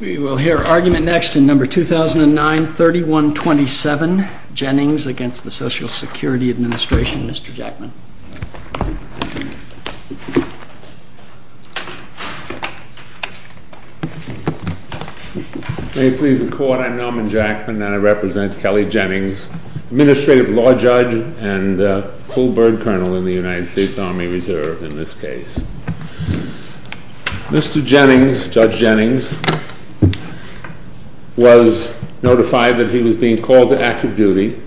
We will hear argument next in No. 2009-3127, Jennings v. Social Security Administration, Mr. Jackman. May it please the Court, I am Norman Jackman and I represent Kelly Jennings, Administrative Law Judge and Colburn Colonel in the United States Army Reserve in this case. Mr. Jennings, Judge Jennings, was notified that he was being called to active duty.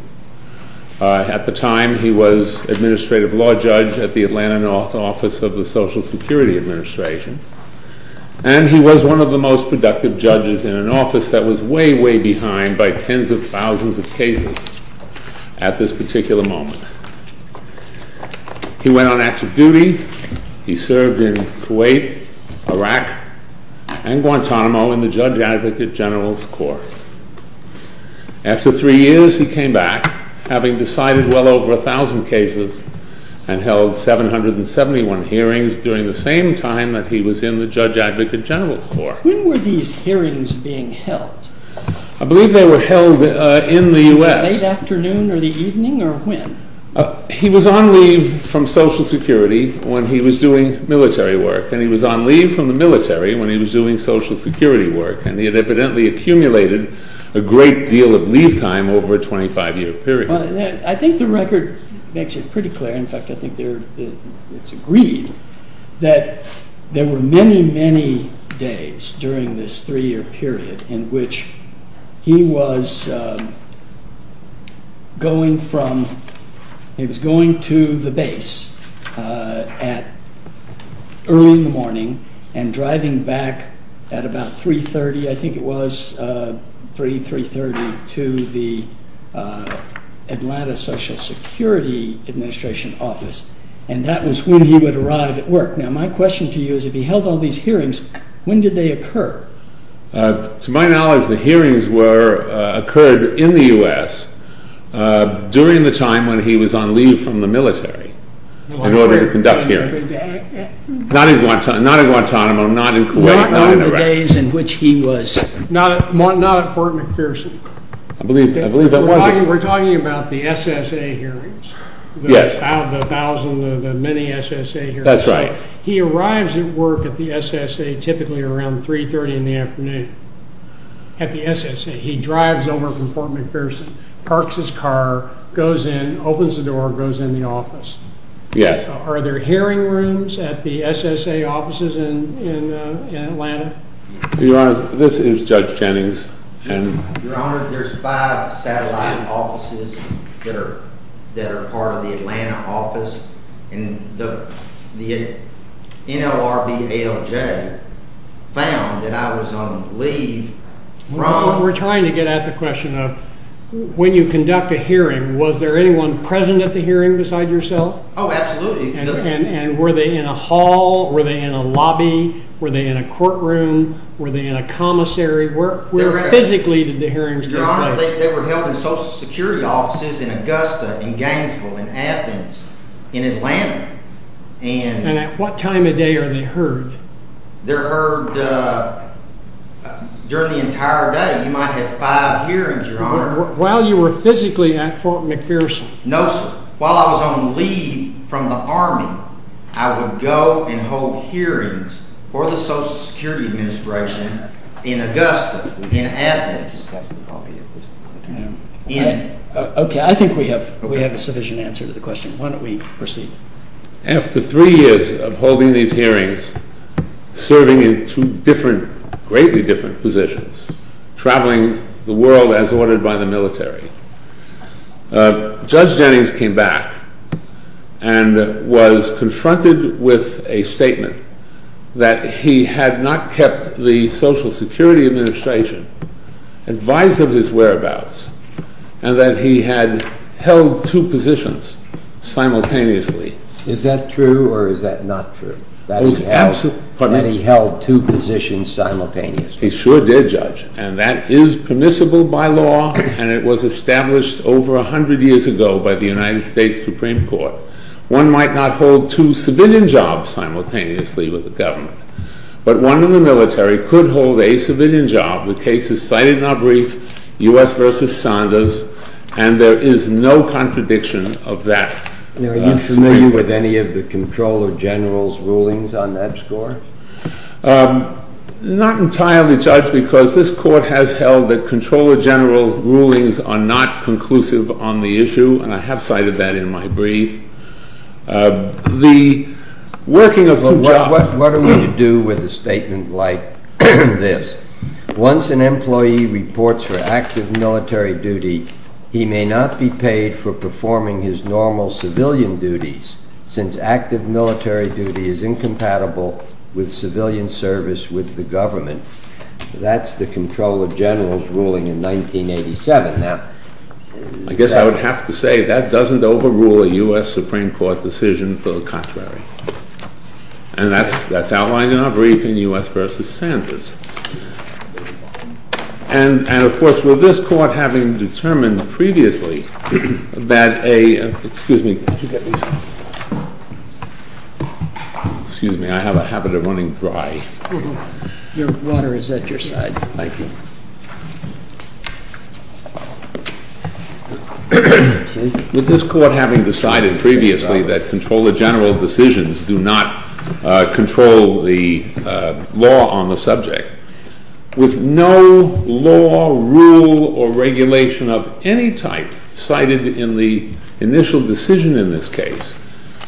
At the time, he was Administrative Law Judge at the Atlanta North Office of the Social Security Administration, and he was one of the most productive judges in an office that had tens of thousands of cases at this particular moment. He went on active duty. He served in Kuwait, Iraq, and Guantanamo in the Judge Advocate General's Corps. After three years, he came back, having decided well over a thousand cases, and held 771 hearings during the same time that he was in the Judge Advocate General's Corps. When were these hearings being held? I believe they were held in the U.S. In the late afternoon or the evening or when? He was on leave from Social Security when he was doing military work, and he was on leave from the military when he was doing Social Security work, and he had evidently accumulated a great deal of leave time over a 25-year period. I think the record makes it pretty clear, in fact I think it's agreed, that there were many, many days during this three-year period in which he was going to the base early in the morning and driving back at about 3.30, I think it was 3, 3.30, to the Atlanta Social Security Administration office, and that was when he would arrive at work. Now my question to you is, if he held all these hearings, when did they occur? To my knowledge, the hearings occurred in the U.S. during the time when he was on leave from the military in order to conduct hearings. Not in Guantanamo, not in Kuwait, not in Iraq. Not in the days in which he was. Not at Fort McPherson. I believe that was it. We're talking about the SSA hearings, the thousand, the many SSA hearings. That's right. He arrives at work at the SSA typically around 3.30 in the afternoon at the SSA. He drives over from Fort McPherson, parks his car, goes in, opens the door, goes in the office. Yes. Are there hearing rooms at the SSA offices in Atlanta? This is Judge Jennings. Your Honor, there's five satellite offices that are part of the Atlanta office, and the NLRB ALJ found that I was on leave from- We're trying to get at the question of, when you conduct a hearing, was there anyone present at the hearing besides yourself? Oh, absolutely. And were they in a hall, were they in a lobby, were they in a courtroom, were they in a commissary? Where physically did the hearings take place? Your Honor, they were held in Social Security offices in Augusta, in Gainesville, in Athens, in Atlanta. And at what time of day are they heard? They're heard during the entire day. You might have five hearings, Your Honor. While you were physically at Fort McPherson? No, sir. While I was on leave from the Army, I would go and hold hearings for the Social Security Administration in Augusta, in Athens, in- Okay, I think we have a sufficient answer to the question. Why don't we proceed? After three years of holding these hearings, serving in two different, greatly different positions, traveling the world as ordered by the military, Judge Jennings came back and was confronted with a statement that he had not kept the Social Security Administration advised of his whereabouts and that he had held two positions simultaneously. Is that true or is that not true? That he held two positions simultaneously? He sure did, Judge, and that is permissible by law and it was established over 100 years ago by the United States Supreme Court. One might not hold two civilian jobs simultaneously with the government, but one in the military could hold a civilian job. The case is cited in our brief, U.S. v. Saunders, and there is no contradiction of that. Now, are you familiar with any of the Comptroller General's rulings on that score? Not entirely, Judge, because this Court has held that Comptroller General rulings are not conclusive on the issue, and I have cited that in my brief. What are we to do with a statement like this? Once an employee reports for active military duty, he may not be paid for performing his normal civilian duties since active military duty is incompatible with civilian service with the government. That's the Comptroller General's ruling in 1987. Now, I guess I would have to say that doesn't overrule a U.S. Supreme Court decision for the contrary, and that's outlined in our brief in U.S. v. Saunders. And, of course, with this Court having determined previously that a—excuse me. Excuse me. I have a habit of running dry. Your water is at your side. Thank you. With this Court having decided previously that Comptroller General decisions do not control the law on the subject, with no law, rule, or regulation of any type cited in the initial decision in this case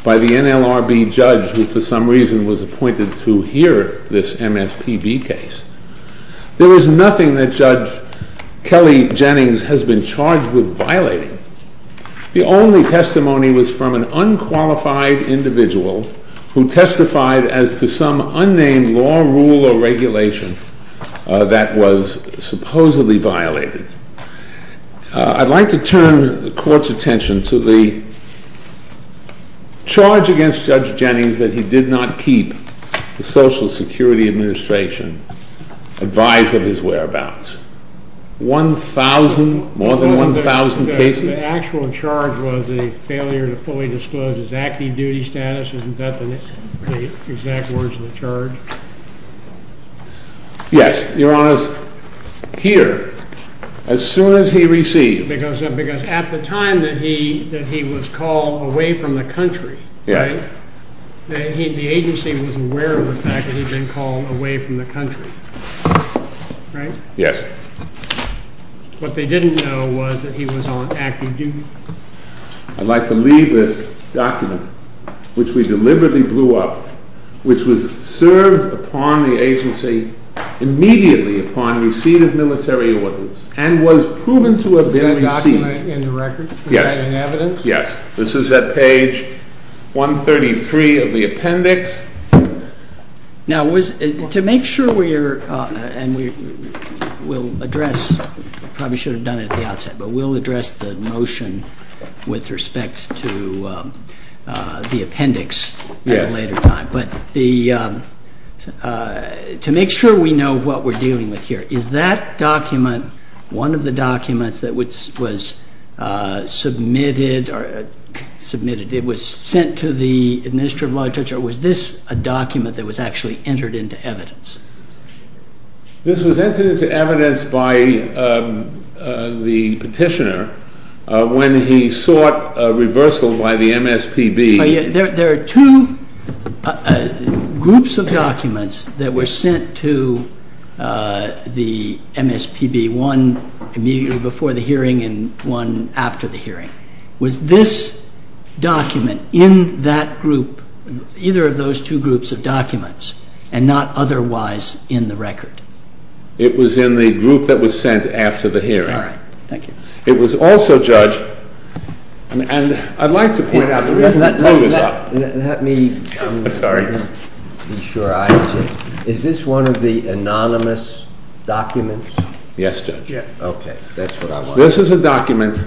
by the NLRB judge who, for some reason, was appointed to hear this MSPB case, there is nothing that Judge Kelly Jennings has been charged with violating. The only testimony was from an unqualified individual who testified as to some unnamed law, rule, or regulation that was supposedly violated. I'd like to turn the Court's attention to the charge against Judge Jennings that he did not keep the Social Security Administration advised of his whereabouts. One thousand, more than one thousand cases? The actual charge was a failure to fully disclose his active duty status. Yes. Your Honor, here, as soon as he received— Because at the time that he was called away from the country, right? Yes. The agency was aware of the fact that he'd been called away from the country, right? Yes. What they didn't know was that he was on active duty. I'd like to leave this document, which we deliberately blew up, which was served upon the agency immediately upon receipt of military orders and was proven to have been received— Is that document in the record? Yes. Is that in evidence? Yes. This is at page 133 of the appendix. Now, to make sure we're—and we'll address—we probably should have done it at the outset, but we'll address the motion with respect to the appendix at a later time. Yes. But the—to make sure we know what we're dealing with here, is that document one of the documents that was submitted or—submitted—it was sent to the Administrative Law Judge, or was this a document that was actually entered into evidence? This was entered into evidence by the petitioner when he sought a reversal by the MSPB. There are two groups of documents that were sent to the MSPB, one immediately before the hearing and one after the hearing. Was this document in that group, either of those two groups of documents, and not otherwise in the record? It was in the group that was sent after the hearing. All right. Thank you. It was also, Judge—and I'd like to point out— Let me— Hold this up. Let me— I'm sorry. Be sure I—is this one of the anonymous documents? Yes, Judge. Yes. Okay. That's what I want. This is a document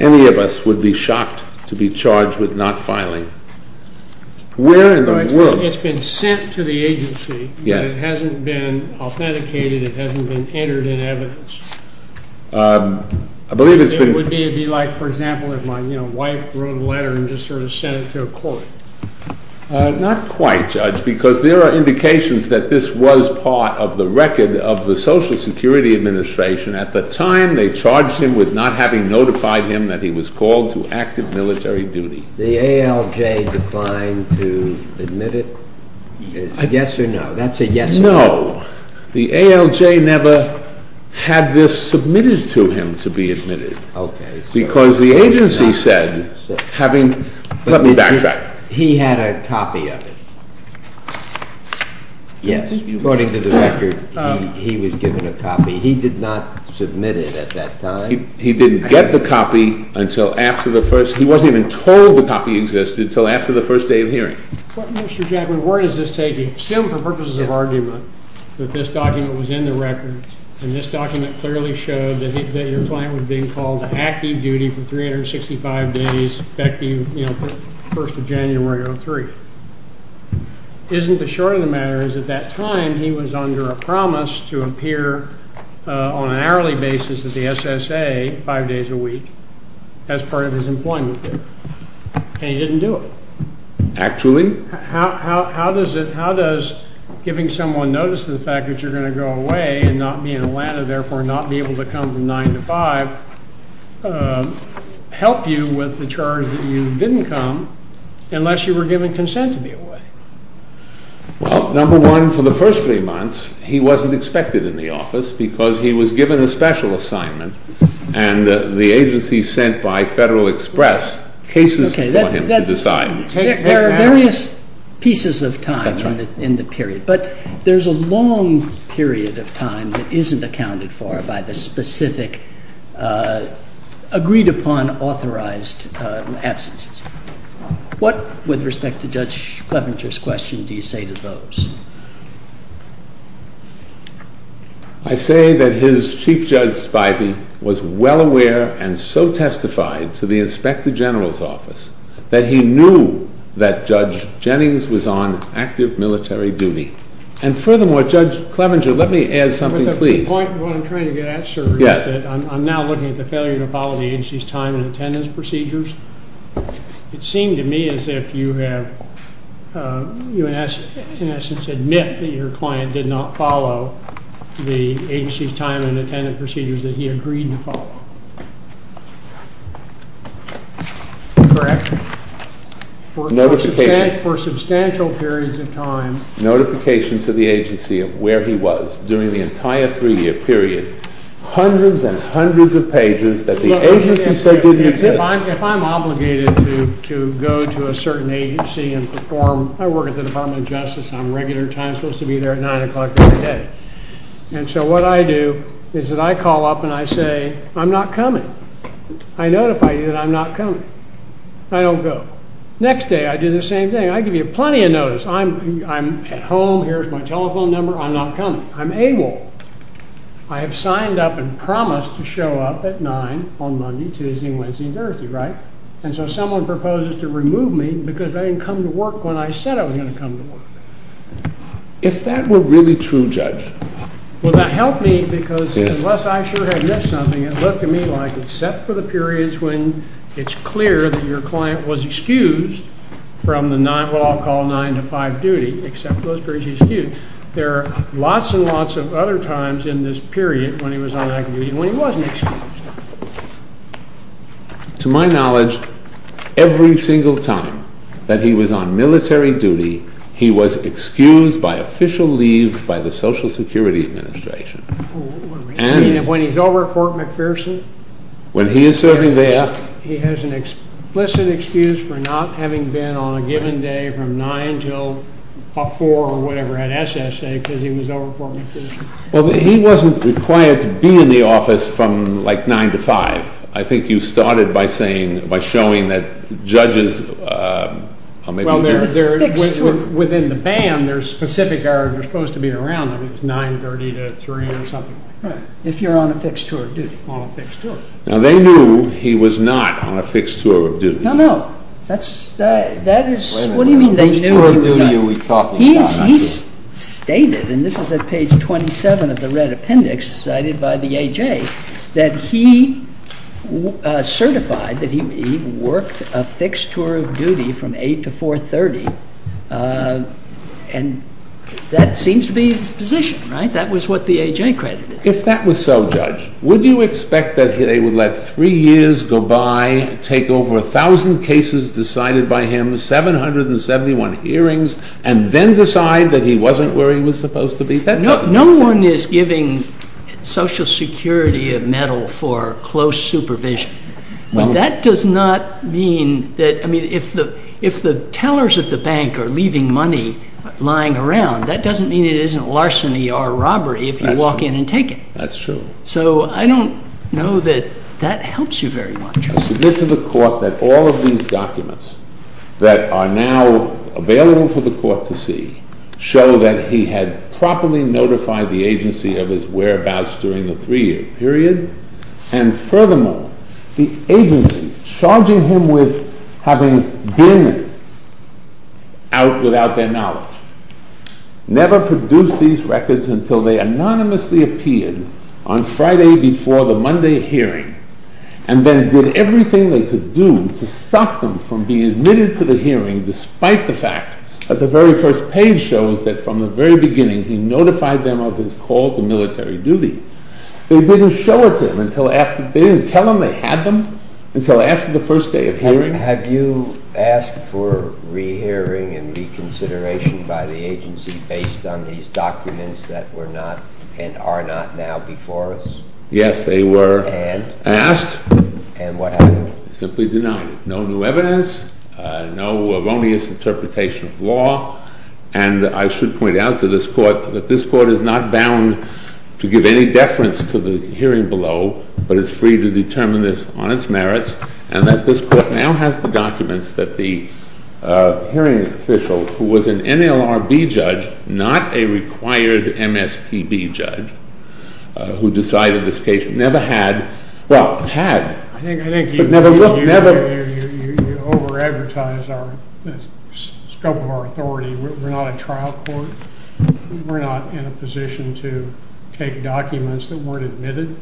any of us would be shocked to be charged with not filing. Where in the world— It's been sent to the agency, but it hasn't been authenticated. It hasn't been entered in evidence. I believe it's been— It would be like, for example, if my wife wrote a letter and just sort of sent it to a court. Not quite, Judge, because there are indications that this was part of the record of the Social Security Administration. At the time, they charged him with not having notified him that he was called to active military duty. The ALJ declined to admit it? Yes or no? That's a yes or no. No. The ALJ never had this submitted to him to be admitted. Okay. Because the agency said, having—let me backtrack. He had a copy of it. Yes. According to the record, he was given a copy. He did not submit it at that time. He didn't get the copy until after the first—he wasn't even told the copy existed until after the first day of hearing. Mr. Jackman, where does this take you? I assume, for purposes of argument, that this document was in the record, and this document clearly showed that your client was being called to active duty for 365 days, effective, you know, 1st of January of 2003. Isn't the short of the matter is, at that time, he was under a promise to appear on an hourly basis at the SSA five days a week as part of his employment there, and he didn't do it? Actually? How does giving someone notice of the fact that you're going to go away and not be in Atlanta, therefore not be able to come from 9 to 5, help you with the charge that you didn't come, unless you were given consent to be away? Well, number one, for the first three months, he wasn't expected in the office because he was given a special assignment, and the agency sent by Federal Express cases for him to decide. There are various pieces of time in the period, but there's a long period of time that isn't accounted for by the specific agreed-upon authorized absences. What, with respect to Judge Clevenger's question, do you say to those? I say that his Chief Judge Spivey was well aware and so testified to the Inspector General's office that he knew that Judge Jennings was on active military duty. And furthermore, Judge Clevenger, let me add something, please. The point of what I'm trying to get at, sir, is that I'm now looking at the failure to follow the agency's time and attendance procedures. It seemed to me as if you have, in essence, admit that your client did not follow the agency's time and attendance procedures that he agreed to follow. Correct. Notification. For substantial periods of time. Notification to the agency of where he was during the entire three-year period. Hundreds and hundreds of pages that the agency said didn't exist. If I'm obligated to go to a certain agency and perform, I work at the Department of Justice, I'm regular time, supposed to be there at 9 o'clock every day. And so what I do is that I call up and I say, I'm not coming. I notify you that I'm not coming. I don't go. Next day I do the same thing. I give you plenty of notice. I'm at home, here's my telephone number, I'm not coming. I'm AWOL. I have signed up and promised to show up at 9 on Monday, Tuesday, Wednesday, Thursday, right? And so someone proposes to remove me because I didn't come to work when I said I was going to come to work. If that were really true, Judge. Well, that helped me because unless I sure had missed something, it looked to me like, except for the periods when it's clear that your client was excused from the nine, what I'll call nine to five duty, except for those periods he's excused. There are lots and lots of other times in this period when he was on active duty when he wasn't excused. To my knowledge, every single time that he was on military duty, he was excused by official leave by the Social Security Administration. When he's over at Fort McPherson? When he is serving there. He has an explicit excuse for not having been on a given day from nine until four or whatever at SSA because he was over at Fort McPherson. Well, he wasn't required to be in the office from, like, nine to five. I think you started by saying, by showing that judges are maybe there. Well, within the band, there's specific hours you're supposed to be around. It's nine-thirty to three or something like that. Right. If you're on a fixed tour of duty. On a fixed tour. Now, they knew he was not on a fixed tour of duty. No, no. That is, what do you mean they knew he was not? He stated, and this is at page 27 of the red appendix cited by the A.J., that he certified that he worked a fixed tour of duty from eight to four-thirty, and that seems to be his position, right? That was what the A.J. credited. If that was so, Judge, would you expect that they would let three years go by, take over a thousand cases decided by him, 771 hearings, and then decide that he wasn't where he was supposed to be? No one is giving Social Security a medal for close supervision. That does not mean that, I mean, if the tellers at the bank are leaving money lying around, that doesn't mean it isn't larceny or robbery if you walk in and take it. That's true. So I don't know that that helps you very much. I submit to the Court that all of these documents that are now available for the Court to see show that he had properly notified the agency of his whereabouts during the three-year period, and furthermore, the agency, charging him with having been out without their knowledge, never produced these records until they anonymously appeared on Friday before the Monday hearing and then did everything they could do to stop them from being admitted to the hearing despite the fact that the very first page shows that from the very beginning he notified them of his call to military duty. They didn't tell him they had them until after the first day of hearing? Have you asked for rehearing and reconsideration by the agency based on these documents that were not and are not now before us? Yes, they were. And? Asked. And what happened? Simply denied. No new evidence, no erroneous interpretation of law, and I should point out to this Court that this Court is not bound to give any deference to the hearing below, but is free to determine this on its merits, and that this Court now has the documents that the hearing official who was an NLRB judge, not a required MSPB judge who decided this case, never had, well, had, but never will. I think you over-advertise the scope of our authority. We're not a trial court. We're not in a position to take documents that weren't admitted.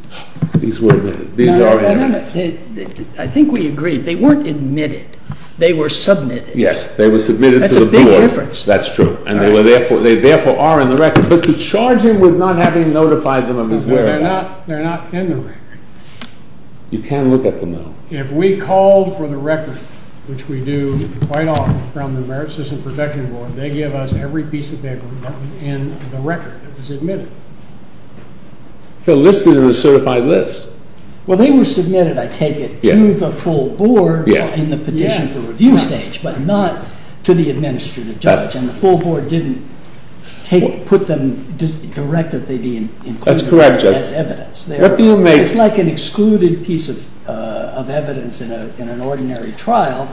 These were admitted. These are admitted. I think we agree. They weren't admitted. They were submitted. Yes, they were submitted to the board. That's a big difference. That's true, and they therefore are in the record. But to charge him with not having notified them of his whereabouts. They're not in the record. You can look at the middle. If we called for the record, which we do quite often from the Merit System Protection Board, they give us every piece of paper in the record that was admitted. They're listed in the certified list. Well, they were submitted, I take it, to the full board in the petition for review stage, but not to the administrative judge, and the full board didn't put them directly as evidence. That's correct, Judge. It's like an excluded piece of evidence in an ordinary trial.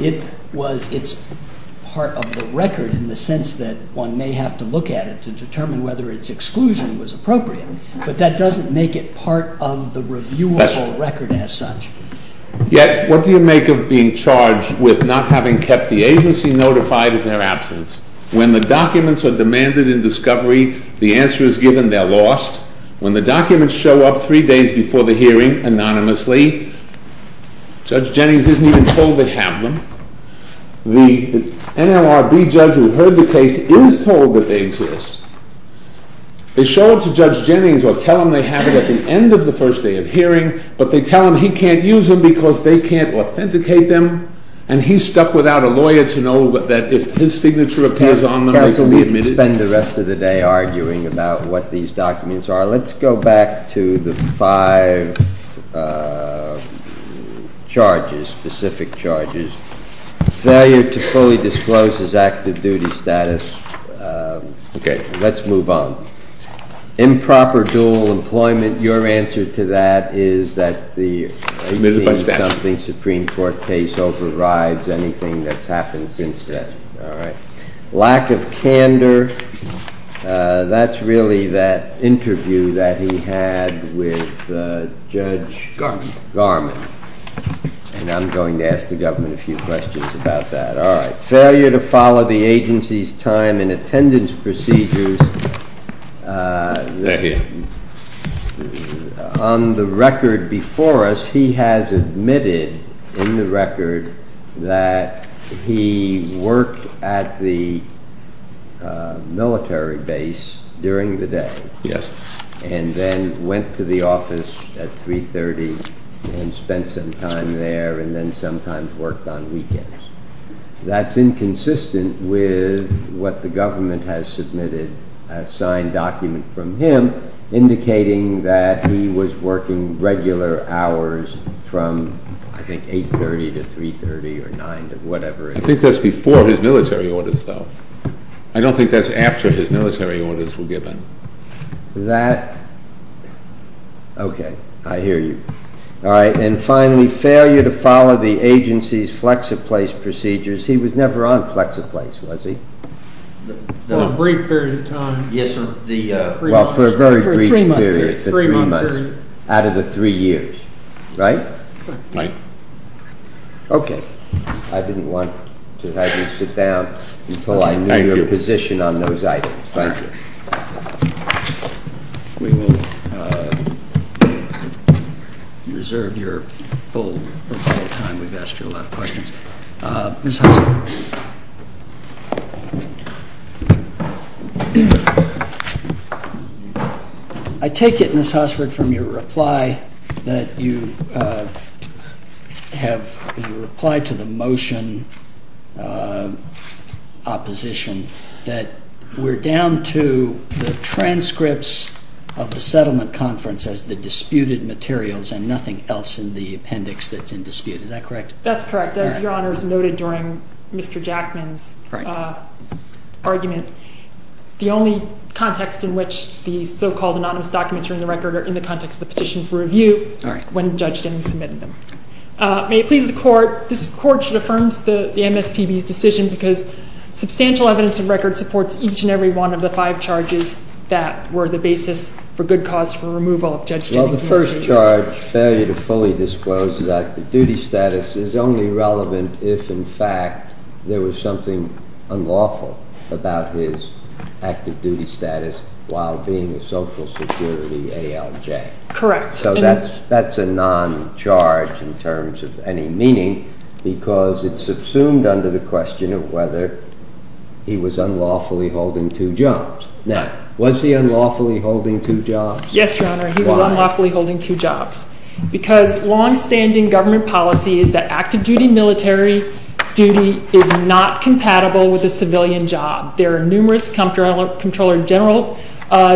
It's part of the record in the sense that one may have to look at it to determine whether its exclusion was appropriate, but that doesn't make it part of the reviewable record as such. Yet, what do you make of being charged with not having kept the agency notified of their absence? When the documents are demanded in discovery, the answer is given, they're lost. When the documents show up three days before the hearing anonymously, Judge Jennings isn't even told they have them. The NLRB judge who heard the case is told that they exist. They show it to Judge Jennings or tell him they have it at the end of the first day of hearing, but they tell him he can't use them because they can't authenticate them, and he's stuck without a lawyer to know that if his signature appears on them, they can be admitted. We can spend the rest of the day arguing about what these documents are. Let's go back to the five charges, specific charges. Failure to fully disclose his active duty status. Let's move on. Improper dual employment. Your answer to that is that the Supreme Court case overrides anything that's happened since then. Lack of candor. That's really that interview that he had with Judge Garman, and I'm going to ask the government a few questions about that. All right. Failure to follow the agency's time and attendance procedures. On the record before us, he has admitted in the record that he worked at the military base during the day and then went to the office at 3.30 and spent some time there and then sometimes worked on weekends. That's inconsistent with what the government has submitted, a signed document from him, indicating that he was working regular hours from, I think, 8.30 to 3.30 or 9, whatever it is. I think that's before his military orders, though. I don't think that's after his military orders were given. That – okay. I hear you. All right. And finally, failure to follow the agency's flex-a-place procedures. He was never on flex-a-place, was he? For a brief period of time. Yes, sir. Well, for a very brief period. For three months. Out of the three years, right? Right. Okay. I didn't want to have you sit down until I knew your position on those items. Thank you. We will reserve your full time. We've asked you a lot of questions. Ms. Hossford, I take it, Ms. Hossford, from your reply that you have – your reply to the motion opposition that we're down to the transcripts of the settlement conference as the disputed materials and nothing else in the appendix that's in dispute. Is that correct? That's correct. As Your Honor has noted during Mr. Jackman's argument, the only context in which these so-called anonymous documents are in the record are in the context of the petition for review when Judge Jennings submitted them. May it please the Court, this Court should affirm the MSPB's decision because substantial evidence of record supports each and every one of the five charges that were the basis for good cause for removal of Judge Jennings and Ms. Hossford. The third charge, failure to fully disclose his active duty status, is only relevant if, in fact, there was something unlawful about his active duty status while being a social security ALJ. Correct. So that's a non-charge in terms of any meaning because it's subsumed under the question of whether he was unlawfully holding two jobs. Now, was he unlawfully holding two jobs? Yes, Your Honor, he was unlawfully holding two jobs because long-standing government policy is that active duty military duty is not compatible with a civilian job. There are numerous Comptroller General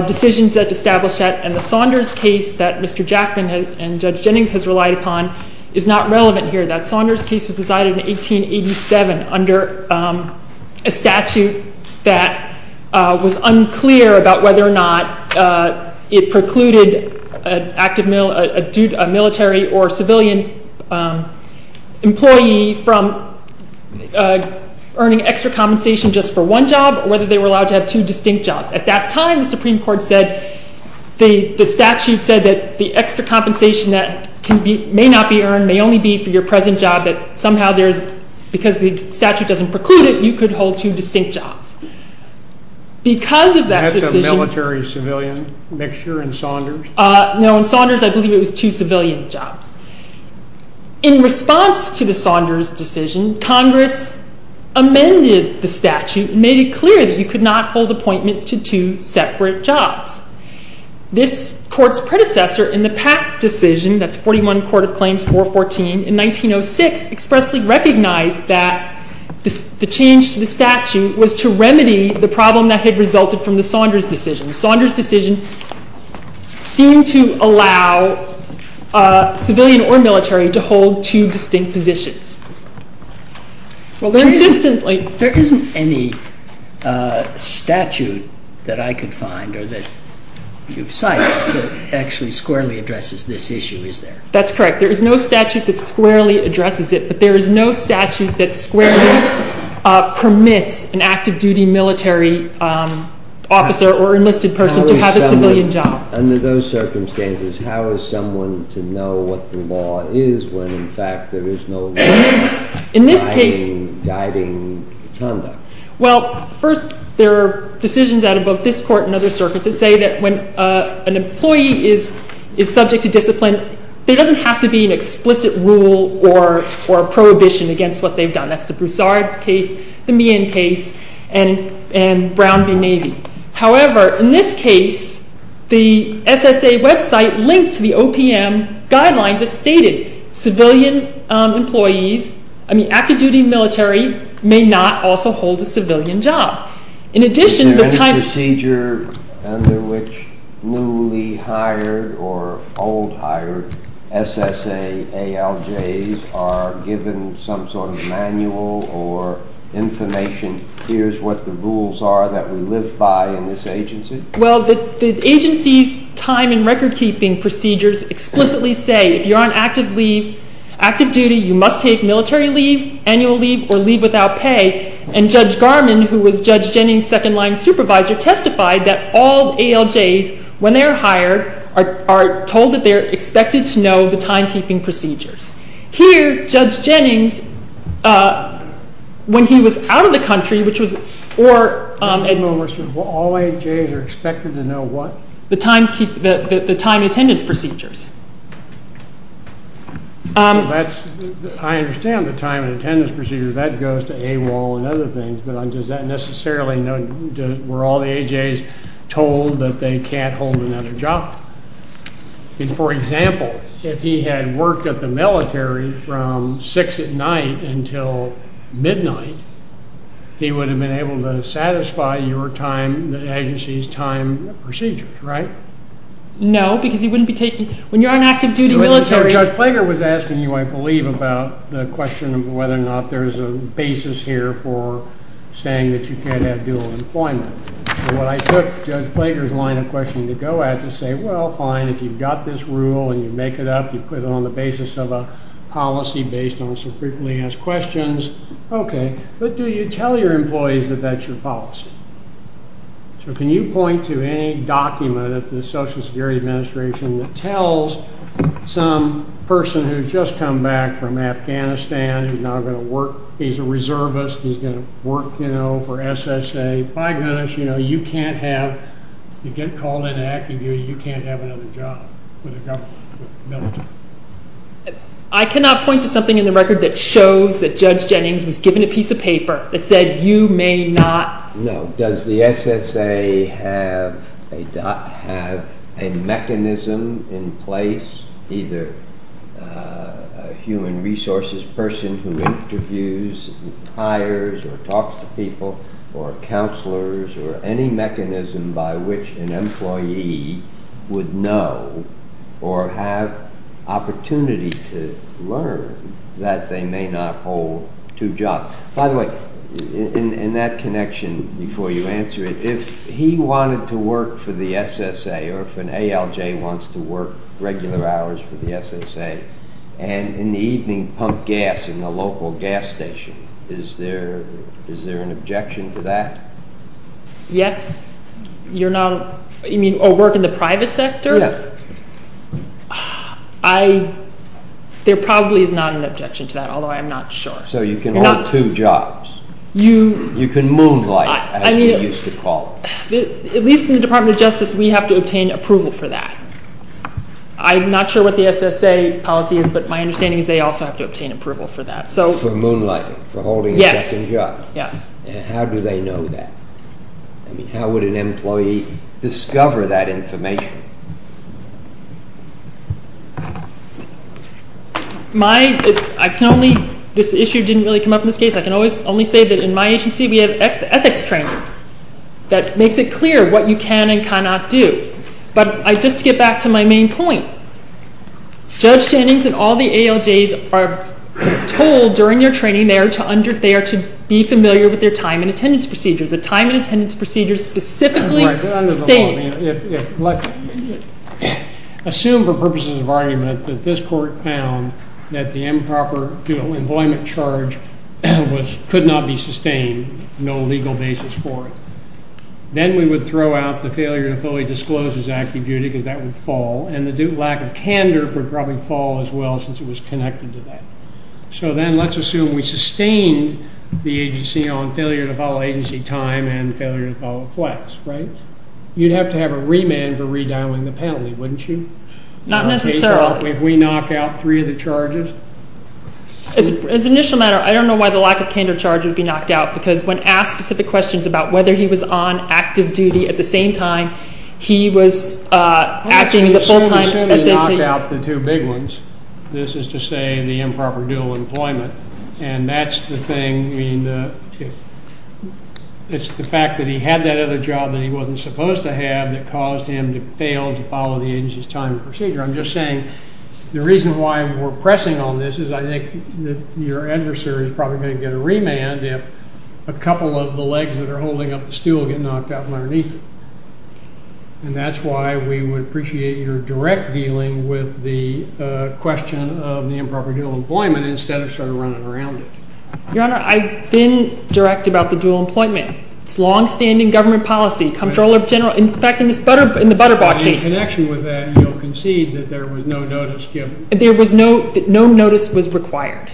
decisions that establish that, and the Saunders case that Mr. Jackman and Judge Jennings has relied upon is not relevant here. That Saunders case was decided in 1887 under a statute that was unclear about whether or not it precluded a military or civilian employee from earning extra compensation just for one job or whether they were allowed to have two distinct jobs. At that time, the Supreme Court said the statute said that the extra compensation that may not be earned may only be for your present job, but somehow because the statute doesn't preclude it, you could hold two distinct jobs. That's a military-civilian mixture in Saunders? No, in Saunders, I believe it was two civilian jobs. In response to the Saunders decision, Congress amended the statute and made it clear that you could not hold appointment to two separate jobs. This Court's predecessor in the Pack decision, that's 41 Court of Claims 414 in 1906, expressly recognized that the change to the statute was to remedy the problem that had resulted from the Saunders decision. The Saunders decision seemed to allow civilian or military to hold two distinct positions. There isn't any statute that I could find or that you've cited that actually squarely addresses this issue, is there? That's correct. There is no statute that squarely addresses it, but there is no statute that squarely permits an active-duty military officer or enlisted person to have a civilian job. Under those circumstances, how is someone to know what the law is when, in fact, there is no law guiding conduct? Well, first, there are decisions out of both this Court and other circuits that say that when an employee is subject to discipline, there doesn't have to be an explicit rule or prohibition against what they've done. That's the Broussard case, the Meehan case, and Brown v. Navy. However, in this case, the SSA website linked to the OPM guidelines, it stated civilian employees, I mean active-duty military may not also hold a civilian job. Is there any procedure under which newly hired or old hired SSA ALJs are given some sort of manual or information, here's what the rules are that we live by in this agency? Well, the agency's time and record-keeping procedures explicitly say if you're on active duty, you must take military leave, annual leave, or leave without pay. And Judge Garman, who was Judge Jennings' second-line supervisor, testified that all ALJs, when they're hired, are told that they're expected to know the time-keeping procedures. Here, Judge Jennings, when he was out of the country, which was— Admiral Mercer, all ALJs are expected to know what? The time and attendance procedures. I understand the time and attendance procedures, that goes to AWOL and other things, but does that necessarily—were all the AJs told that they can't hold another job? For example, if he had worked at the military from 6 at night until midnight, he would have been able to satisfy your time, the agency's time procedures, right? No, because he wouldn't be taking—when you're on active duty military— Judge Plager was asking you, I believe, about the question of whether or not there's a basis here for saying that you can't have dual employment. So what I took Judge Plager's line of questioning to go at to say, well, fine, if you've got this rule and you make it up, you put it on the basis of a policy based on some frequently asked questions, okay, but do you tell your employees that that's your policy? So can you point to any document of the Social Security Administration that tells some person who's just come back from Afghanistan, who's now going to work—he's a reservist, he's going to work for SSA, by goodness, you know, you can't have—you get called into active duty, you can't have another job with the government, with the military. I cannot point to something in the record that shows that Judge Jennings was given a piece of paper that said you may not— No. Does the SSA have a mechanism in place, either a human resources person who interviews and hires or talks to people or counselors or any mechanism by which an employee would know or have opportunity to learn that they may not hold two jobs? By the way, in that connection, before you answer it, if he wanted to work for the SSA or if an ALJ wants to work regular hours for the SSA and in the evening pump gas in the local gas station, is there an objection to that? Yes. You're not—you mean work in the private sector? Yes. I—there probably is not an objection to that, although I'm not sure. So you can hold two jobs. You— You can moonlight, as we used to call it. At least in the Department of Justice, we have to obtain approval for that. I'm not sure what the SSA policy is, but my understanding is they also have to obtain approval for that. For moonlighting, for holding a second job. Yes. And how do they know that? I mean, how would an employee discover that information? My—I can only—this issue didn't really come up in this case. I can only say that in my agency, we have ethics training that makes it clear what you can and cannot do. But just to get back to my main point, Judge Jennings and all the ALJs are told during their training, they are to be familiar with their time and attendance procedures. The time and attendance procedures specifically state— Assume for purposes of argument that this court found that the improper employment charge was—could not be sustained, no legal basis for it. Then we would throw out the failure to fully disclose his active duty because that would fall, and the lack of candor would probably fall as well since it was connected to that. So then let's assume we sustain the agency on failure to follow agency time and failure to follow flex, right? You'd have to have a remand for redialing the penalty, wouldn't you? Not necessarily. If we knock out three of the charges? As an initial matter, I don't know why the lack of candor charge would be knocked out because when asked specific questions about whether he was on active duty at the same time, he was acting as a full-time SAC— Actually, assume he knocked out the two big ones. This is to say the improper dual employment. And that's the thing. I mean, it's the fact that he had that other job that he wasn't supposed to have that caused him to fail to follow the agency's time and procedure. I'm just saying the reason why we're pressing on this is I think that your adversary is probably going to get a remand if a couple of the legs that are holding up the stool get knocked out underneath it. And that's why we would appreciate your direct dealing with the question of the improper dual employment instead of sort of running around it. Your Honor, I've been direct about the dual employment. It's longstanding government policy. In fact, in the Butterbaugh case— In connection with that, you'll concede that there was no notice given. No notice was required.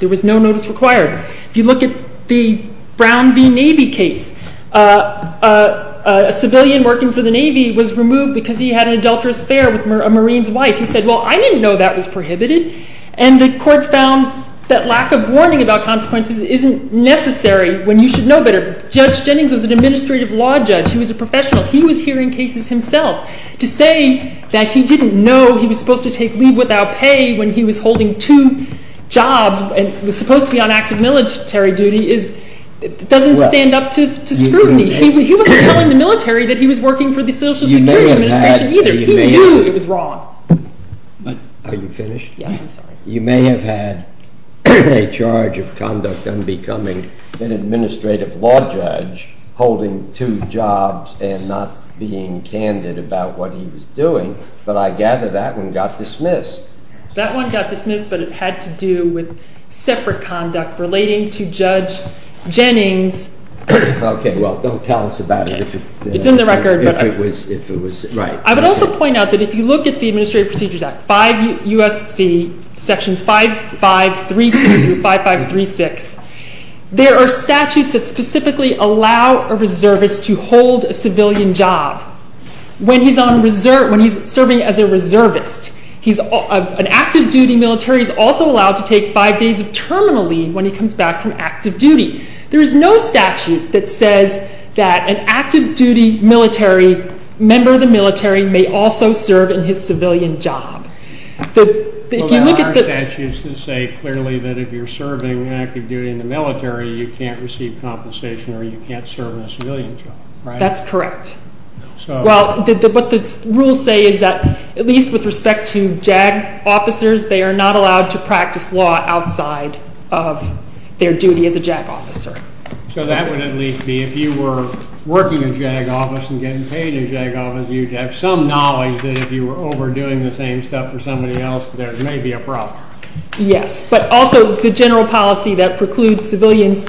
There was no notice required. If you look at the Brown v. Navy case, a civilian working for the Navy was removed because he had an adulterous affair with a Marine's wife. He said, well, I didn't know that was prohibited. And the court found that lack of warning about consequences isn't necessary when you should know better. Judge Jennings was an administrative law judge. He was a professional. He was hearing cases himself. To say that he didn't know he was supposed to take leave without pay when he was holding two jobs and was supposed to be on active military duty doesn't stand up to scrutiny. He wasn't telling the military that he was working for the Social Security Administration either. He knew it was wrong. Are you finished? Yes, I'm sorry. You may have had a charge of conduct unbecoming, an administrative law judge holding two jobs and not being candid about what he was doing, but I gather that one got dismissed. That one got dismissed, but it had to do with separate conduct relating to Judge Jennings. Okay, well, don't tell us about it. It's in the record. I would also point out that if you look at the Administrative Procedures Act, 5 U.S.C. sections 5532 through 5536, there are statutes that specifically allow a reservist to hold a civilian job when he's serving as a reservist. An active duty military is also allowed to take five days of terminal leave when he comes back from active duty. There is no statute that says that an active duty member of the military may also serve in his civilian job. There are statutes that say clearly that if you're serving active duty in the military, you can't receive compensation or you can't serve in a civilian job, right? That's correct. Well, what the rules say is that at least with respect to JAG officers, they are not allowed to practice law outside of their duty as a JAG officer. So that would at least be if you were working a JAG office and getting paid a JAG office, you'd have some knowledge that if you were overdoing the same stuff for somebody else, there may be a problem. Yes, but also the general policy that precludes civilians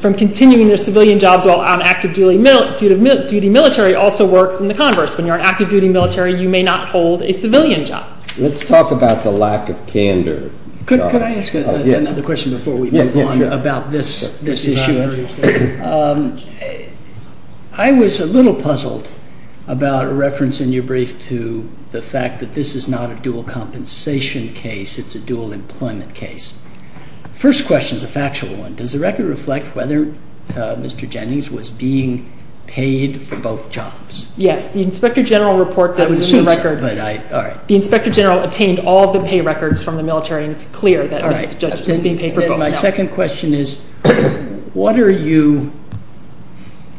from continuing their civilian jobs while on active duty military also works in the converse. When you're on active duty military, you may not hold a civilian job. Let's talk about the lack of candor. Could I ask another question before we move on about this issue? I was a little puzzled about a reference in your brief to the fact that this is not a dual compensation case. It's a dual employment case. First question is a factual one. Does the record reflect whether Mr. Jennings was being paid for both jobs? Yes. The inspector general report that was in the record, the inspector general obtained all the pay records from the military, and it's clear that Mr. Jennings was being paid for both jobs. Then my second question is what are you,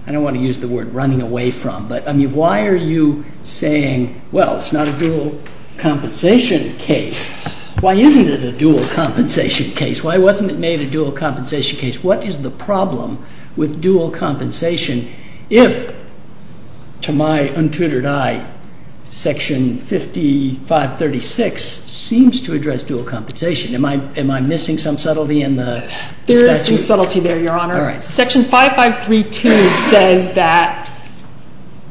I don't want to use the word running away from, but why are you saying, well, it's not a dual compensation case. Why isn't it a dual compensation case? Why wasn't it made a dual compensation case? What is the problem with dual compensation if, to my untutored eye, Section 5536 seems to address dual compensation? Am I missing some subtlety in the statute? There is some subtlety there, Your Honor. Section 5532 says that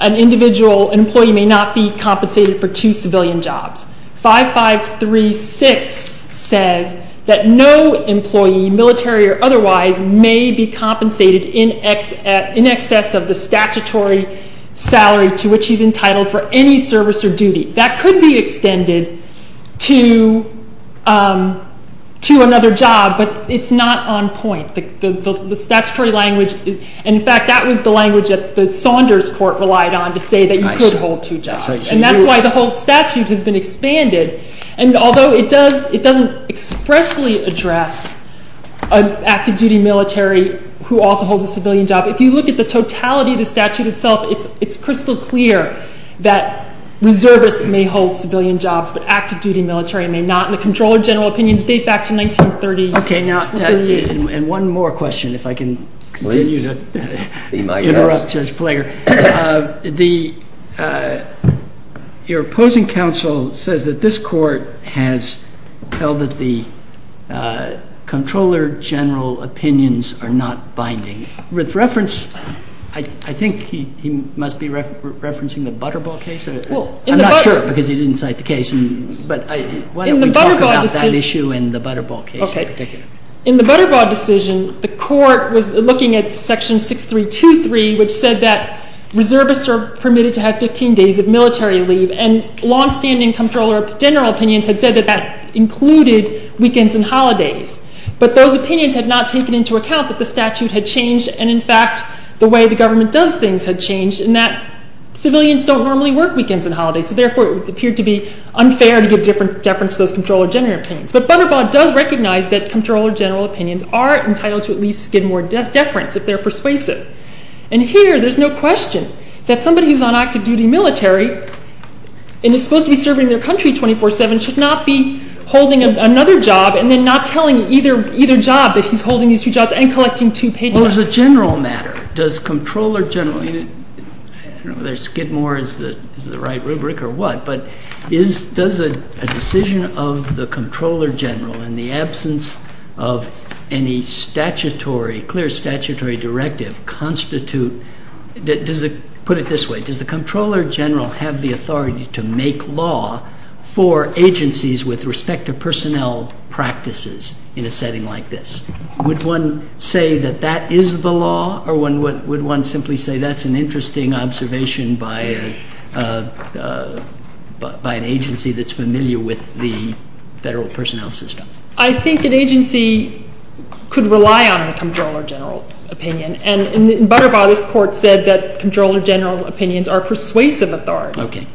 an individual employee may not be compensated for two civilian jobs. 5536 says that no employee, military or otherwise, may be compensated in excess of the statutory salary to which he's entitled for any service or duty. That could be extended to another job, but it's not on point. The statutory language, and, in fact, that was the language that the Saunders court relied on to say that you could hold two jobs. And that's why the whole statute has been expanded. And although it doesn't expressly address an active-duty military who also holds a civilian job, if you look at the totality of the statute itself, it's crystal clear that reservists may hold civilian jobs, but active-duty military may not. And the comptroller general opinions date back to 1930. And one more question, if I can continue to interrupt Judge Plager. Your opposing counsel says that this court has held that the comptroller general opinions are not binding. With reference, I think he must be referencing the Butterball case. I'm not sure because he didn't cite the case. But why don't we talk about that issue in the Butterball case in particular. In the Butterball decision, the court was looking at Section 6323, which said that reservists are permitted to have 15 days of military leave, and longstanding comptroller general opinions had said that that included weekends and holidays. But those opinions had not taken into account that the statute had changed, and, in fact, the way the government does things had changed, and that civilians don't normally work weekends and holidays. So, therefore, it would appear to be unfair to give different deference to those comptroller general opinions. But Butterball does recognize that comptroller general opinions are entitled to at least Skidmore deference, if they're persuasive. And here, there's no question that somebody who's on active-duty military and is supposed to be serving their country 24-7 should not be holding another job and then not telling either job that he's holding these two jobs and collecting two paychecks. Well, as a general matter, does comptroller general – I don't know whether Skidmore is the right rubric or what, but does a decision of the comptroller general in the absence of any statutory, clear statutory directive constitute – put it this way – does the comptroller general have the authority to make law for agencies with respect to personnel practices in a setting like this? Would one say that that is the law, or would one simply say that's an interesting observation by an agency that's familiar with the Federal Personnel System? I think an agency could rely on the comptroller general opinion. And in Butterball, this Court said that comptroller general opinions are persuasive authority. Okay.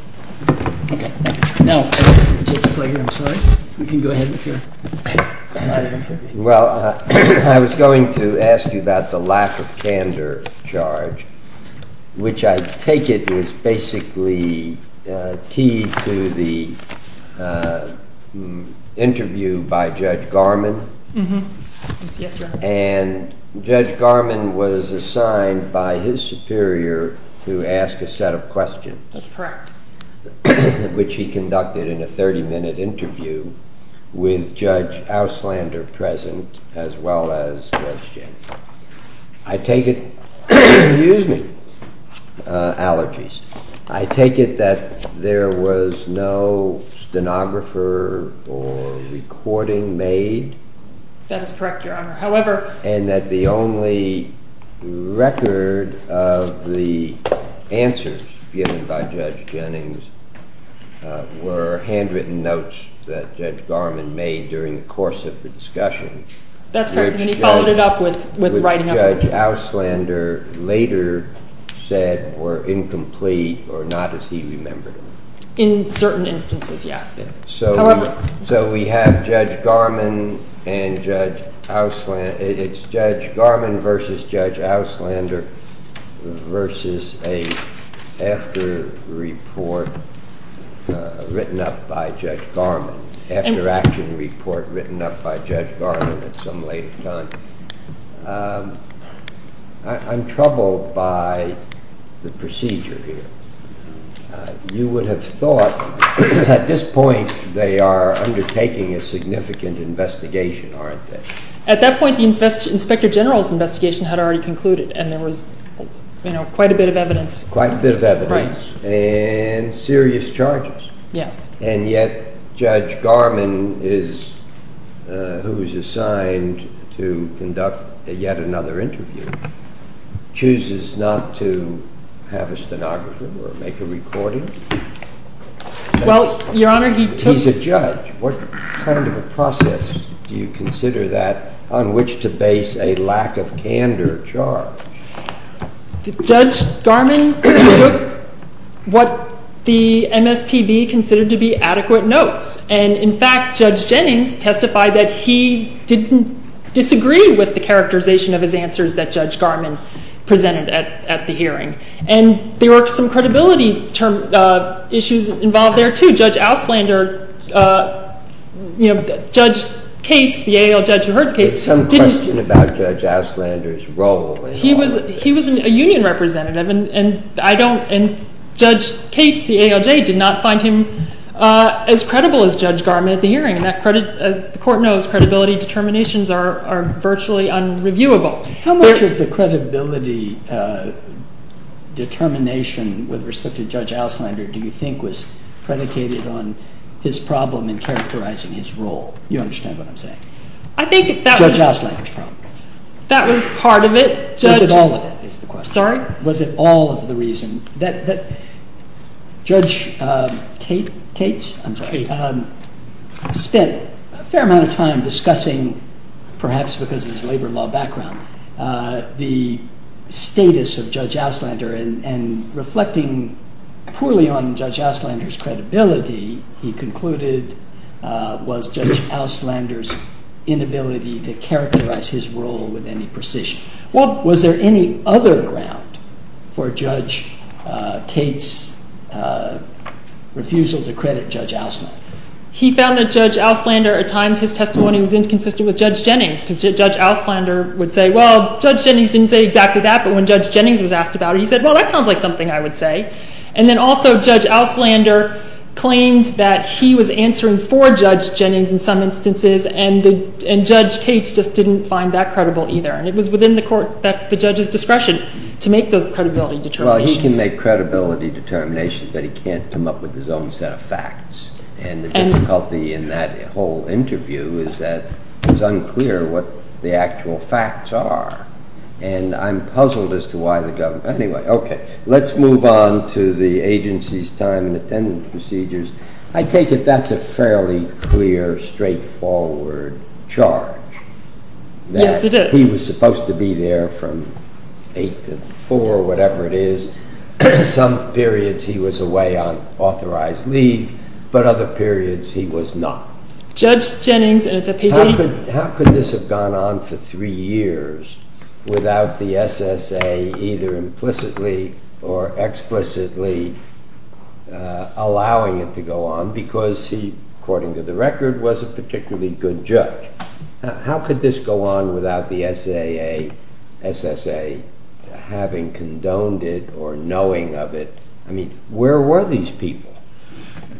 Okay, thank you. Now – I'm sorry. You can go ahead with your argument here. Well, I was going to ask you about the lack of candor charge, which I take it is basically key to the interview by Judge Garman. Yes, yes, Your Honor. And Judge Garman was assigned by his superior to ask a set of questions. That's correct. Which he conducted in a 30-minute interview with Judge Auslander present as well as Judge Jennings. I take it – excuse me – allergies. I take it that there was no stenographer or recording made? That is correct, Your Honor. And that the only record of the answers given by Judge Jennings were handwritten notes that Judge Garman made during the course of the discussion. That's correct. And he followed it up with writing of the notes. Which Judge Auslander later said were incomplete or not as he remembered them. In certain instances, yes. So we have Judge Garman versus Judge Auslander versus an after-action report written up by Judge Garman at some later time. I'm troubled by the procedure here. You would have thought at this point they are undertaking a significant investigation, aren't they? At that point, the Inspector General's investigation had already concluded and there was quite a bit of evidence. Quite a bit of evidence and serious charges. Yes. And yet Judge Garman, who was assigned to conduct yet another interview, chooses not to have a stenographer or make a recording? Well, Your Honor, he took... He's a judge. What kind of a process do you consider that on which to base a lack of candor charge? Judge Garman took what the MSPB considered to be adequate notes. And in fact, Judge Jennings testified that he didn't disagree with the characterization of his answers that Judge Garman presented at the hearing. And there were some credibility issues involved there too. Judge Auslander, you know, Judge Cates, the ALJ who heard the case... There's some question about Judge Auslander's role in all of this. He was a union representative and Judge Cates, the ALJ, did not find him as credible as Judge Garman at the hearing. As the Court knows, credibility determinations are virtually unreviewable. How much of the credibility determination with respect to Judge Auslander do you think was predicated on his problem in characterizing his role? You understand what I'm saying? I think that was... Judge Auslander's problem. That was part of it. Was it all of it is the question. Sorry? Was it all of the reason that Judge Cates... He spent a fair amount of time discussing, perhaps because of his labor law background, the status of Judge Auslander and reflecting poorly on Judge Auslander's credibility, he concluded was Judge Auslander's inability to characterize his role with any precision. Was there any other ground for Judge Cates' refusal to credit Judge Auslander? He found that Judge Auslander, at times, his testimony was inconsistent with Judge Jennings because Judge Auslander would say, well, Judge Jennings didn't say exactly that, but when Judge Jennings was asked about it, he said, well, that sounds like something I would say. And then also, Judge Auslander claimed that he was answering for Judge Jennings in some instances and Judge Cates just didn't find that credible either. And it was within the Court, the judge's discretion, to make those credibility determinations. But he can't come up with his own set of facts. And the difficulty in that whole interview is that it was unclear what the actual facts are. And I'm puzzled as to why the government... Anyway, okay, let's move on to the agency's time and attendance procedures. I take it that's a fairly clear, straightforward charge. Yes, it is. That he was supposed to be there from 8 to 4, whatever it is. Some periods he was away on authorized leave, but other periods he was not. Judge Jennings, and it's a PG... How could this have gone on for three years without the SSA either implicitly or explicitly allowing it to go on because he, according to the record, was a particularly good judge? How could this go on without the SSA having condoned it or knowing of it? I mean, where were these people?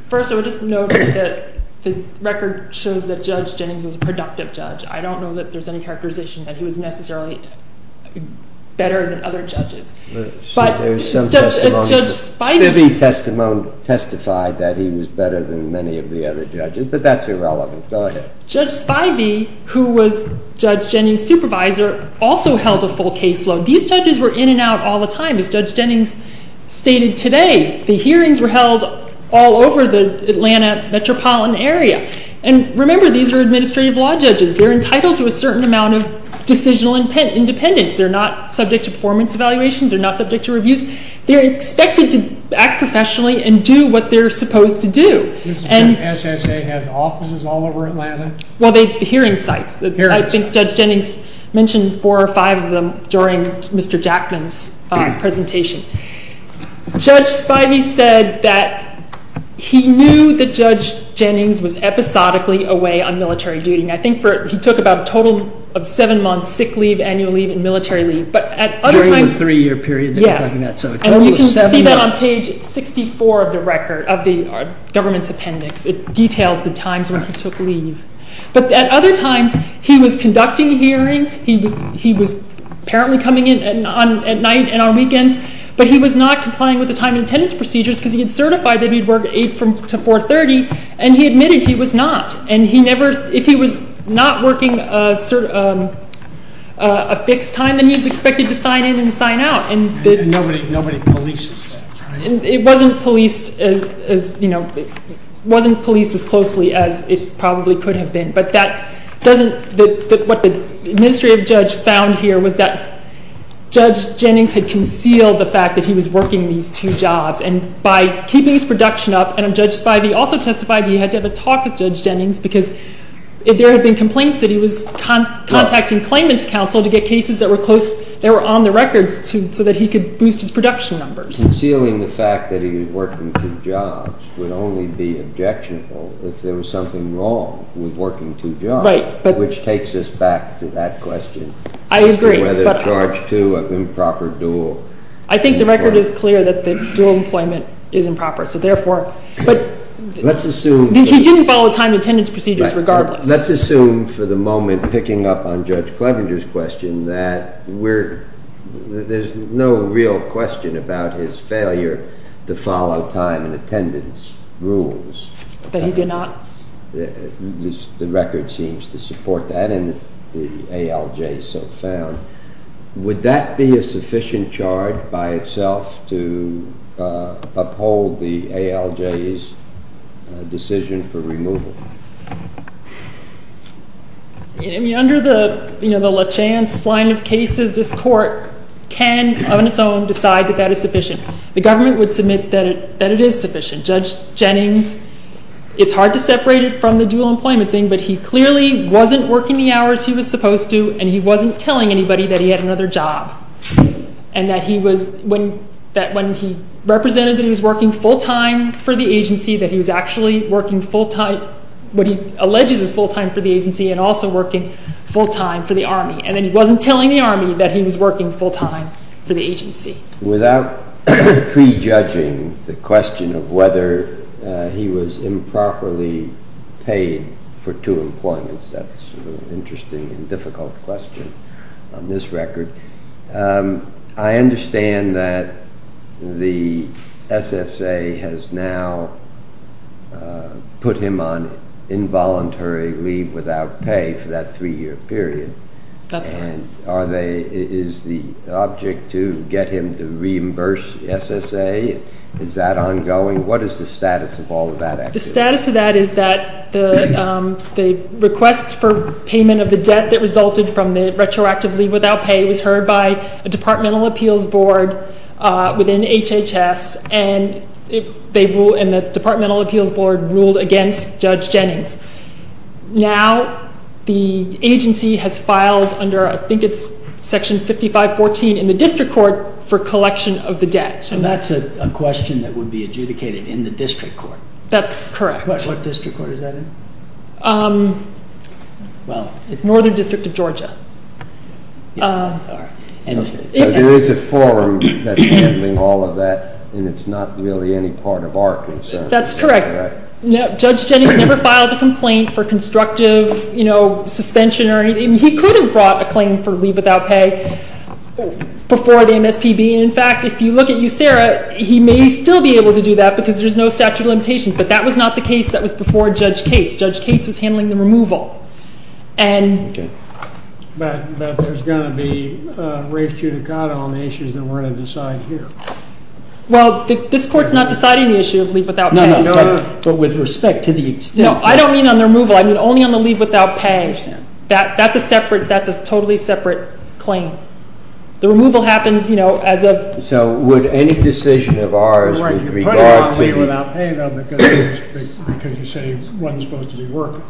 First, I would just note that the record shows that Judge Jennings was a productive judge. I don't know that there's any characterization that he was necessarily better than other judges. But Judge Spivey testified that he was better than many of the other judges, but that's irrelevant. Go ahead. Judge Spivey, who was Judge Jennings' supervisor, also held a full caseload. These judges were in and out all the time, as Judge Jennings stated today. The hearings were held all over the Atlanta metropolitan area. And remember, these are administrative law judges. They're entitled to a certain amount of decisional independence. They're not subject to performance evaluations. They're not subject to reviews. They're expected to act professionally and do what they're supposed to do. The SSA has offices all over Atlanta? Well, the hearing sites. I think Judge Jennings mentioned four or five of them during Mr. Jackman's presentation. Judge Spivey said that he knew that Judge Jennings was episodically away on military duty. I think he took about a total of seven months sick leave, annual leave, and military leave. During the three-year period that you're talking about. Yes. And you can see that on page 64 of the record, of the government's appendix. It details the times when he took leave. But at other times, he was conducting hearings. He was apparently coming in at night and on weekends, but he was not complying with the time and attendance procedures because he had certified that he'd work from 8 to 4.30, and he admitted he was not. And if he was not working a fixed time, then he was expected to sign in and sign out. And nobody polices that, right? It wasn't policed as closely as it probably could have been. But what the administrative judge found here was that Judge Jennings had concealed the fact that he was working these two jobs, and by keeping his production up, and Judge Spivey also testified he had to have a talk with Judge Jennings because there had been complaints that he was contacting claimants' counsel to get cases that were on the records so that he could boost his production numbers. Concealing the fact that he was working two jobs would only be objectionable if there was something wrong with working two jobs. Right. Which takes us back to that question. I agree. Whether charge two of improper dual. I think the record is clear that the dual employment is improper, so therefore. Let's assume. He didn't follow the time and attendance procedures regardless. Let's assume for the moment, picking up on Judge Clevenger's question, that there's no real question about his failure to follow time and attendance rules. But he did not? The record seems to support that, and the ALJ so found. Would that be a sufficient charge by itself to uphold the ALJ's decision for removal? Under the LaChance line of cases, this court can on its own decide that that is sufficient. The government would submit that it is sufficient. Judge Jennings, it's hard to separate it from the dual employment thing, but he clearly wasn't working the hours he was supposed to, and he wasn't telling anybody that he had another job, and that when he represented that he was working full-time for the agency, that he was actually working full-time, what he alleges is full-time for the agency, and also working full-time for the Army, and then he wasn't telling the Army that he was working full-time for the agency. Without prejudging the question of whether he was improperly paid for two employments, that's an interesting and difficult question on this record, I understand that the SSA has now put him on involuntary leave without pay for that three-year period. That's correct. And is the object to get him to reimburse the SSA? Is that ongoing? What is the status of all of that? The status of that is that the request for payment of the debt that resulted from the retroactive leave without pay was heard by a departmental appeals board within HHS, and the departmental appeals board ruled against Judge Jennings. Now the agency has filed under I think it's section 5514 in the district court for collection of the debt. So that's a question that would be adjudicated in the district court? That's correct. What district court is that in? Northern District of Georgia. So there is a forum that's handling all of that and it's not really any part of our concern. That's correct. Judge Jennings never filed a complaint for constructive suspension or anything. He could have brought a claim for leave without pay before the MSPB. In fact, if you look at USERRA, he may still be able to do that because there's no statute of limitations, but that was not the case that was before Judge Cates. Judge Cates was handling the removal. But there's going to be res judicata on the issues that we're going to decide here. No, but with respect to the extent. No, I don't mean on the removal. I mean only on the leave without pay. That's a separate, that's a totally separate claim. The removal happens, you know, as of. So would any decision of ours with regard to. You put him on leave without pay though because you say he wasn't supposed to be working.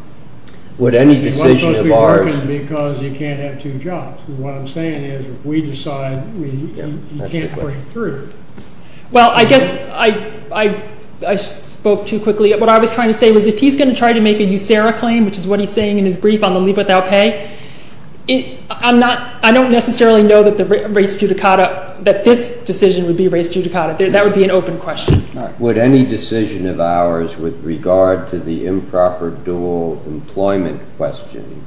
Would any decision of ours. He wasn't supposed to be working because he can't have two jobs. What I'm saying is if we decide, he can't break through. Well, I guess I spoke too quickly. What I was trying to say was if he's going to try to make a USERRA claim, which is what he's saying in his brief on the leave without pay, I'm not, I don't necessarily know that the res judicata, that this decision would be res judicata. That would be an open question. Would any decision of ours with regard to the improper dual employment question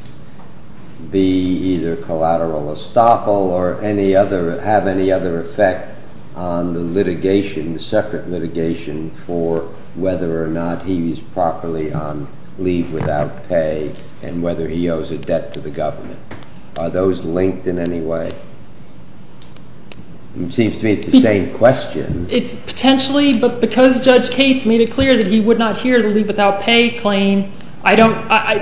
be either collateral estoppel or any other, have any other effect on the litigation, the separate litigation for whether or not he's properly on leave without pay and whether he owes a debt to the government. Are those linked in any way? It seems to me it's the same question. It's potentially, but because Judge Cates made it clear that he would not hear the leave without pay claim, I don't,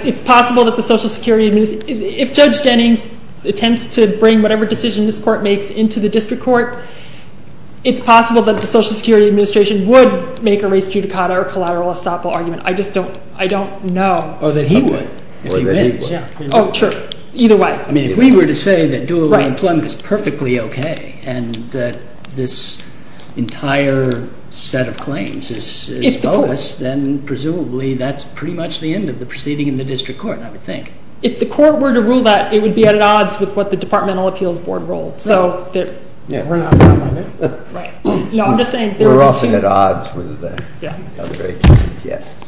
it's possible that the social security, if Judge Jennings attempts to bring whatever decision this court makes into the district court, it's possible that the social security administration would make a res judicata or collateral estoppel argument. I just don't, I don't know. Or that he would. Or that he would. Oh, true. Either way. I mean, if we were to say that dual employment is perfectly okay and that this entire set of claims is boast, then presumably that's pretty much the end of the proceeding in the district court, I would think. If the court were to rule that, it would be at odds with what the Departmental Appeals Board ruled. So. Yeah. Right. No, I'm just saying. We're often at odds with other agencies. Yes.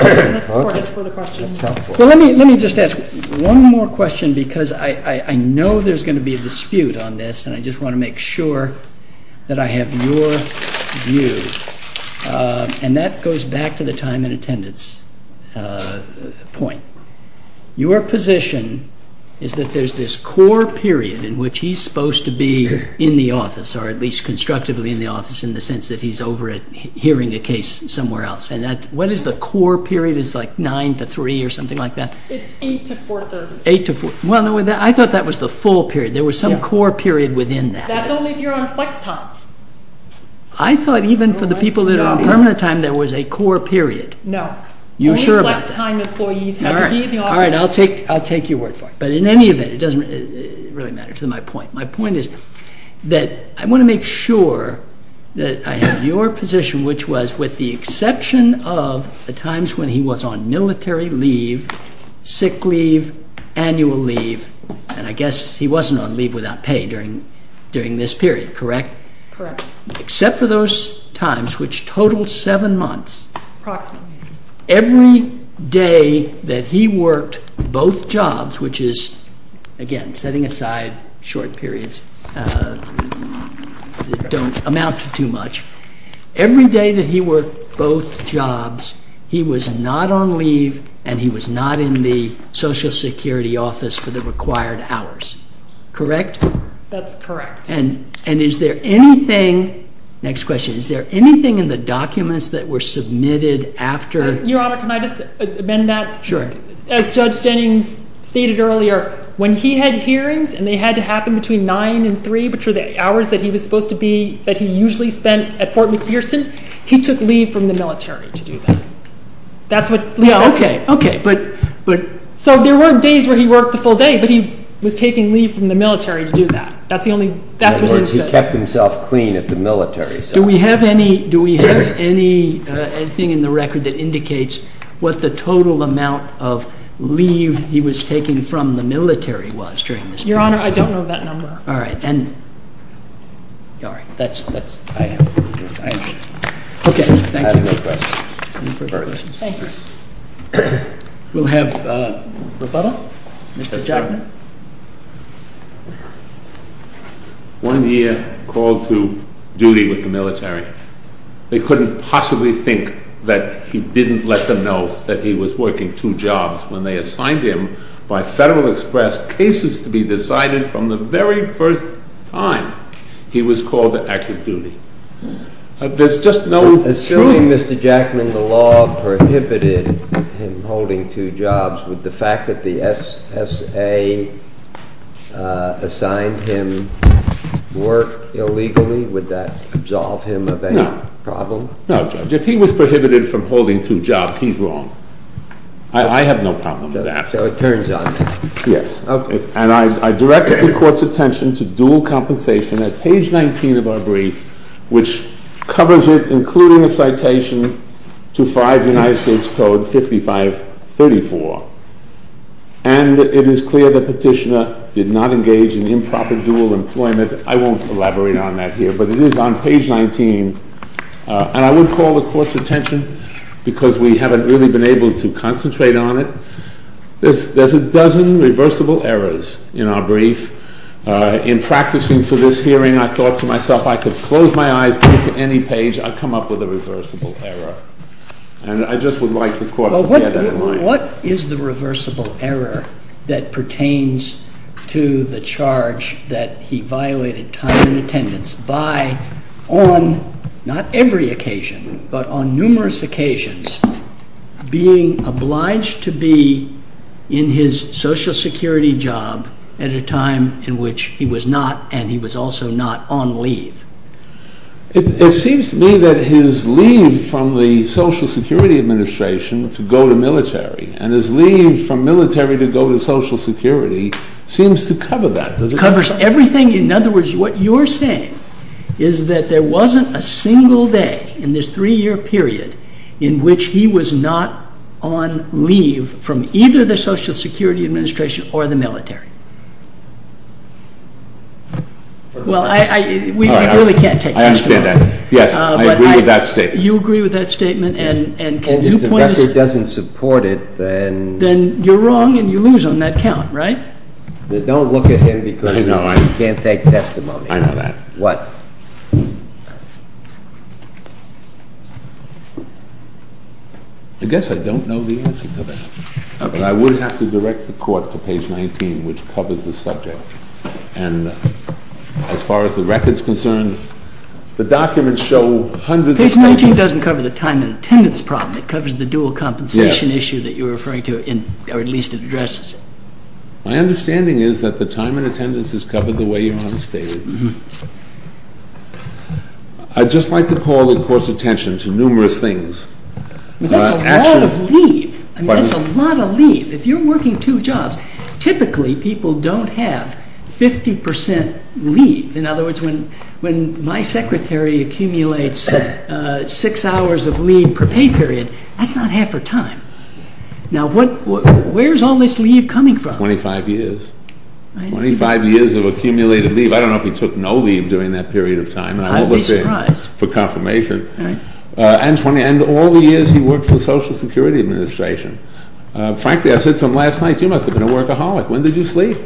Unless the court has further questions. Well, let me just ask one more question because I know there's going to be a dispute on this, and I just want to make sure that I have your view. And that goes back to the time and attendance point. Your position is that there's this core period in which he's supposed to be in the office, or at least constructively in the office in the sense that he's over at hearing a case somewhere else. And what is the core period? Is it like 9 to 3 or something like that? It's 8 to 4. 8 to 4. Well, I thought that was the full period. There was some core period within that. That's only if you're on flex time. I thought even for the people that are on permanent time, there was a core period. No. Only flex time employees have to be in the office. All right. I'll take your word for it. But in any event, it doesn't really matter to my point. My point is that I want to make sure that I have your position, which was with the exception of the times when he was on military leave, sick leave, annual leave, and I guess he wasn't on leave without pay during this period, correct? Correct. Except for those times which total 7 months. Approximately. Every day that he worked both jobs, which is, again, setting aside short periods that don't amount to too much, every day that he worked both jobs, he was not on leave and he was not in the Social Security office for the required hours, correct? That's correct. And is there anything, next question, is there anything in the documents that were submitted after? Your Honor, can I just amend that? Sure. As Judge Jennings stated earlier, when he had hearings and they had to happen between 9 and 3, which were the hours that he was supposed to be, that he usually spent at Fort McPherson, he took leave from the military to do that. That's what, yeah, okay, okay, but, but, so there were days where he worked the full day, but he was taking leave from the military to do that. That's the only, that's what it says. In other words, he kept himself clean at the military side. Do we have any, do we have anything in the record that indicates what the total amount of leave he was taking from the military was during this period? Your Honor, I don't know that number. All right, then, all right, that's, that's, I have, I have, okay, thank you. No questions. No further questions. Thank you. We'll have rebuttal. Mr. Jackman. One year called to duty with the military. They couldn't possibly think that he didn't let them know that he was working two jobs when they assigned him by Federal Express cases to be decided from the very first time he was called to active duty. There's just no truth. Assuming, Mr. Jackman, the law prohibited him holding two jobs, would the fact that the SSA assigned him work illegally, would that absolve him of any problem? No, no, Judge. If he was prohibited from holding two jobs, he's wrong. I have no problem with that. So it turns on him. Yes. Okay. And I direct the court's attention to dual compensation at page 19 of our brief, which covers it, including a citation to 5 United States Code 5534. And it is clear the petitioner did not engage in improper dual employment. I won't elaborate on that here, but it is on page 19. And I would call the court's attention, because we haven't really been able to concentrate on it. There's a dozen reversible errors in our brief. In practicing for this hearing, I thought to myself, I could close my eyes, go to any page, I'd come up with a reversible error. And I just would like the court to bear that in mind. What is the reversible error that pertains to the charge that he violated time and attendance by, on not every occasion, but on numerous occasions, being obliged to be in his Social Security job at a time in which he was not and he was also not on leave? It seems to me that his leave from the Social Security Administration to go to military and his leave from military to go to Social Security seems to cover that. It covers everything. In other words, what you're saying is that there wasn't a single day in this three-year period in which he was not on leave from either the Social Security Administration or the military. Well, I really can't take that. I understand that. Yes, I agree with that statement. You agree with that statement? Yes. And if the record doesn't support it, then... Then you're wrong and you lose on that count, right? Don't look at him because you can't take testimony. I know that. What? I guess I don't know the answer to that. But I would have to direct the court to page 19, which covers the subject. And as far as the record's concerned, the documents show hundreds of pages... Page 19 doesn't cover the time and attendance problem. It covers the dual compensation issue that you're referring to, or at least it addresses it. My understanding is that the time and attendance is covered the way you've stated. I'd just like to call the court's attention to numerous things. That's a lot of leave. I mean, that's a lot of leave. If you're working two jobs, typically people don't have 50 percent leave. In other words, when my secretary accumulates six hours of leave per pay period, that's not half her time. Now, where's all this leave coming from? Twenty-five years. Twenty-five years of accumulated leave. I don't know if he took no leave during that period of time. I'd be surprised. For confirmation. And all the years he worked for the Social Security Administration. Frankly, I said something last night. You must have been a workaholic. When did you sleep?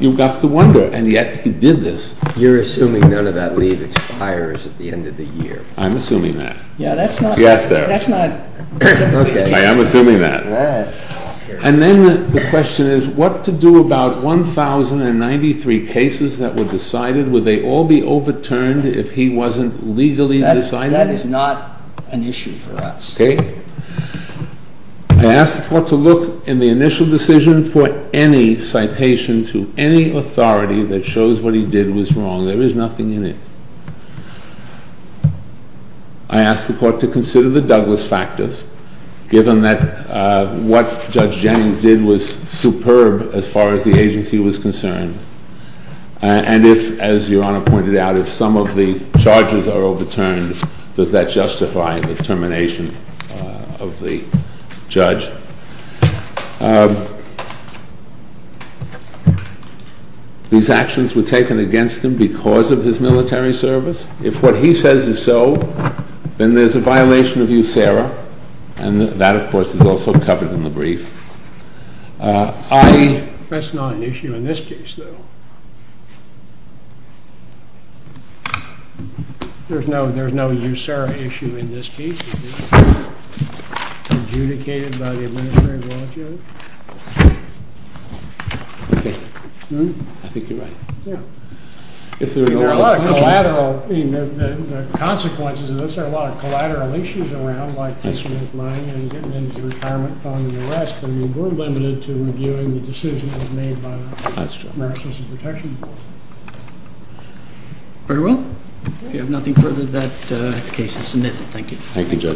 You've got to wonder. And yet he did this. You're assuming none of that leave expires at the end of the year. I'm assuming that. Yes, sir. I am assuming that. And then the question is, what to do about 1,093 cases that were decided? Would they all be overturned if he wasn't legally deciding? That is not an issue for us. Okay. I asked the court to look in the initial decision for any citation to any authority that shows what he did was wrong. There is nothing in it. I asked the court to consider the Douglas factors, given that what Judge Jennings did was superb as far as the agency was concerned. And if, as Your Honor pointed out, if some of the charges are overturned, does that justify the termination of the judge? These actions were taken against him because of his military service. If what he says is so, then there's a violation of USERRA, and that, of course, is also covered in the brief. That's not an issue in this case, though. There's no USERRA issue in this case. Adjudicated by the administrative law, Judge? Okay. I think you're right. Yeah. I mean, there are a lot of collateral consequences of this. There are a lot of collateral issues around, like this man lying and getting his retirement fund and the rest. I mean, we're limited to reviewing the decision that was made by the American Citizens Protection Board. That's true. Very well. If you have nothing further, that case is submitted. Thank you. Thank you, Judge.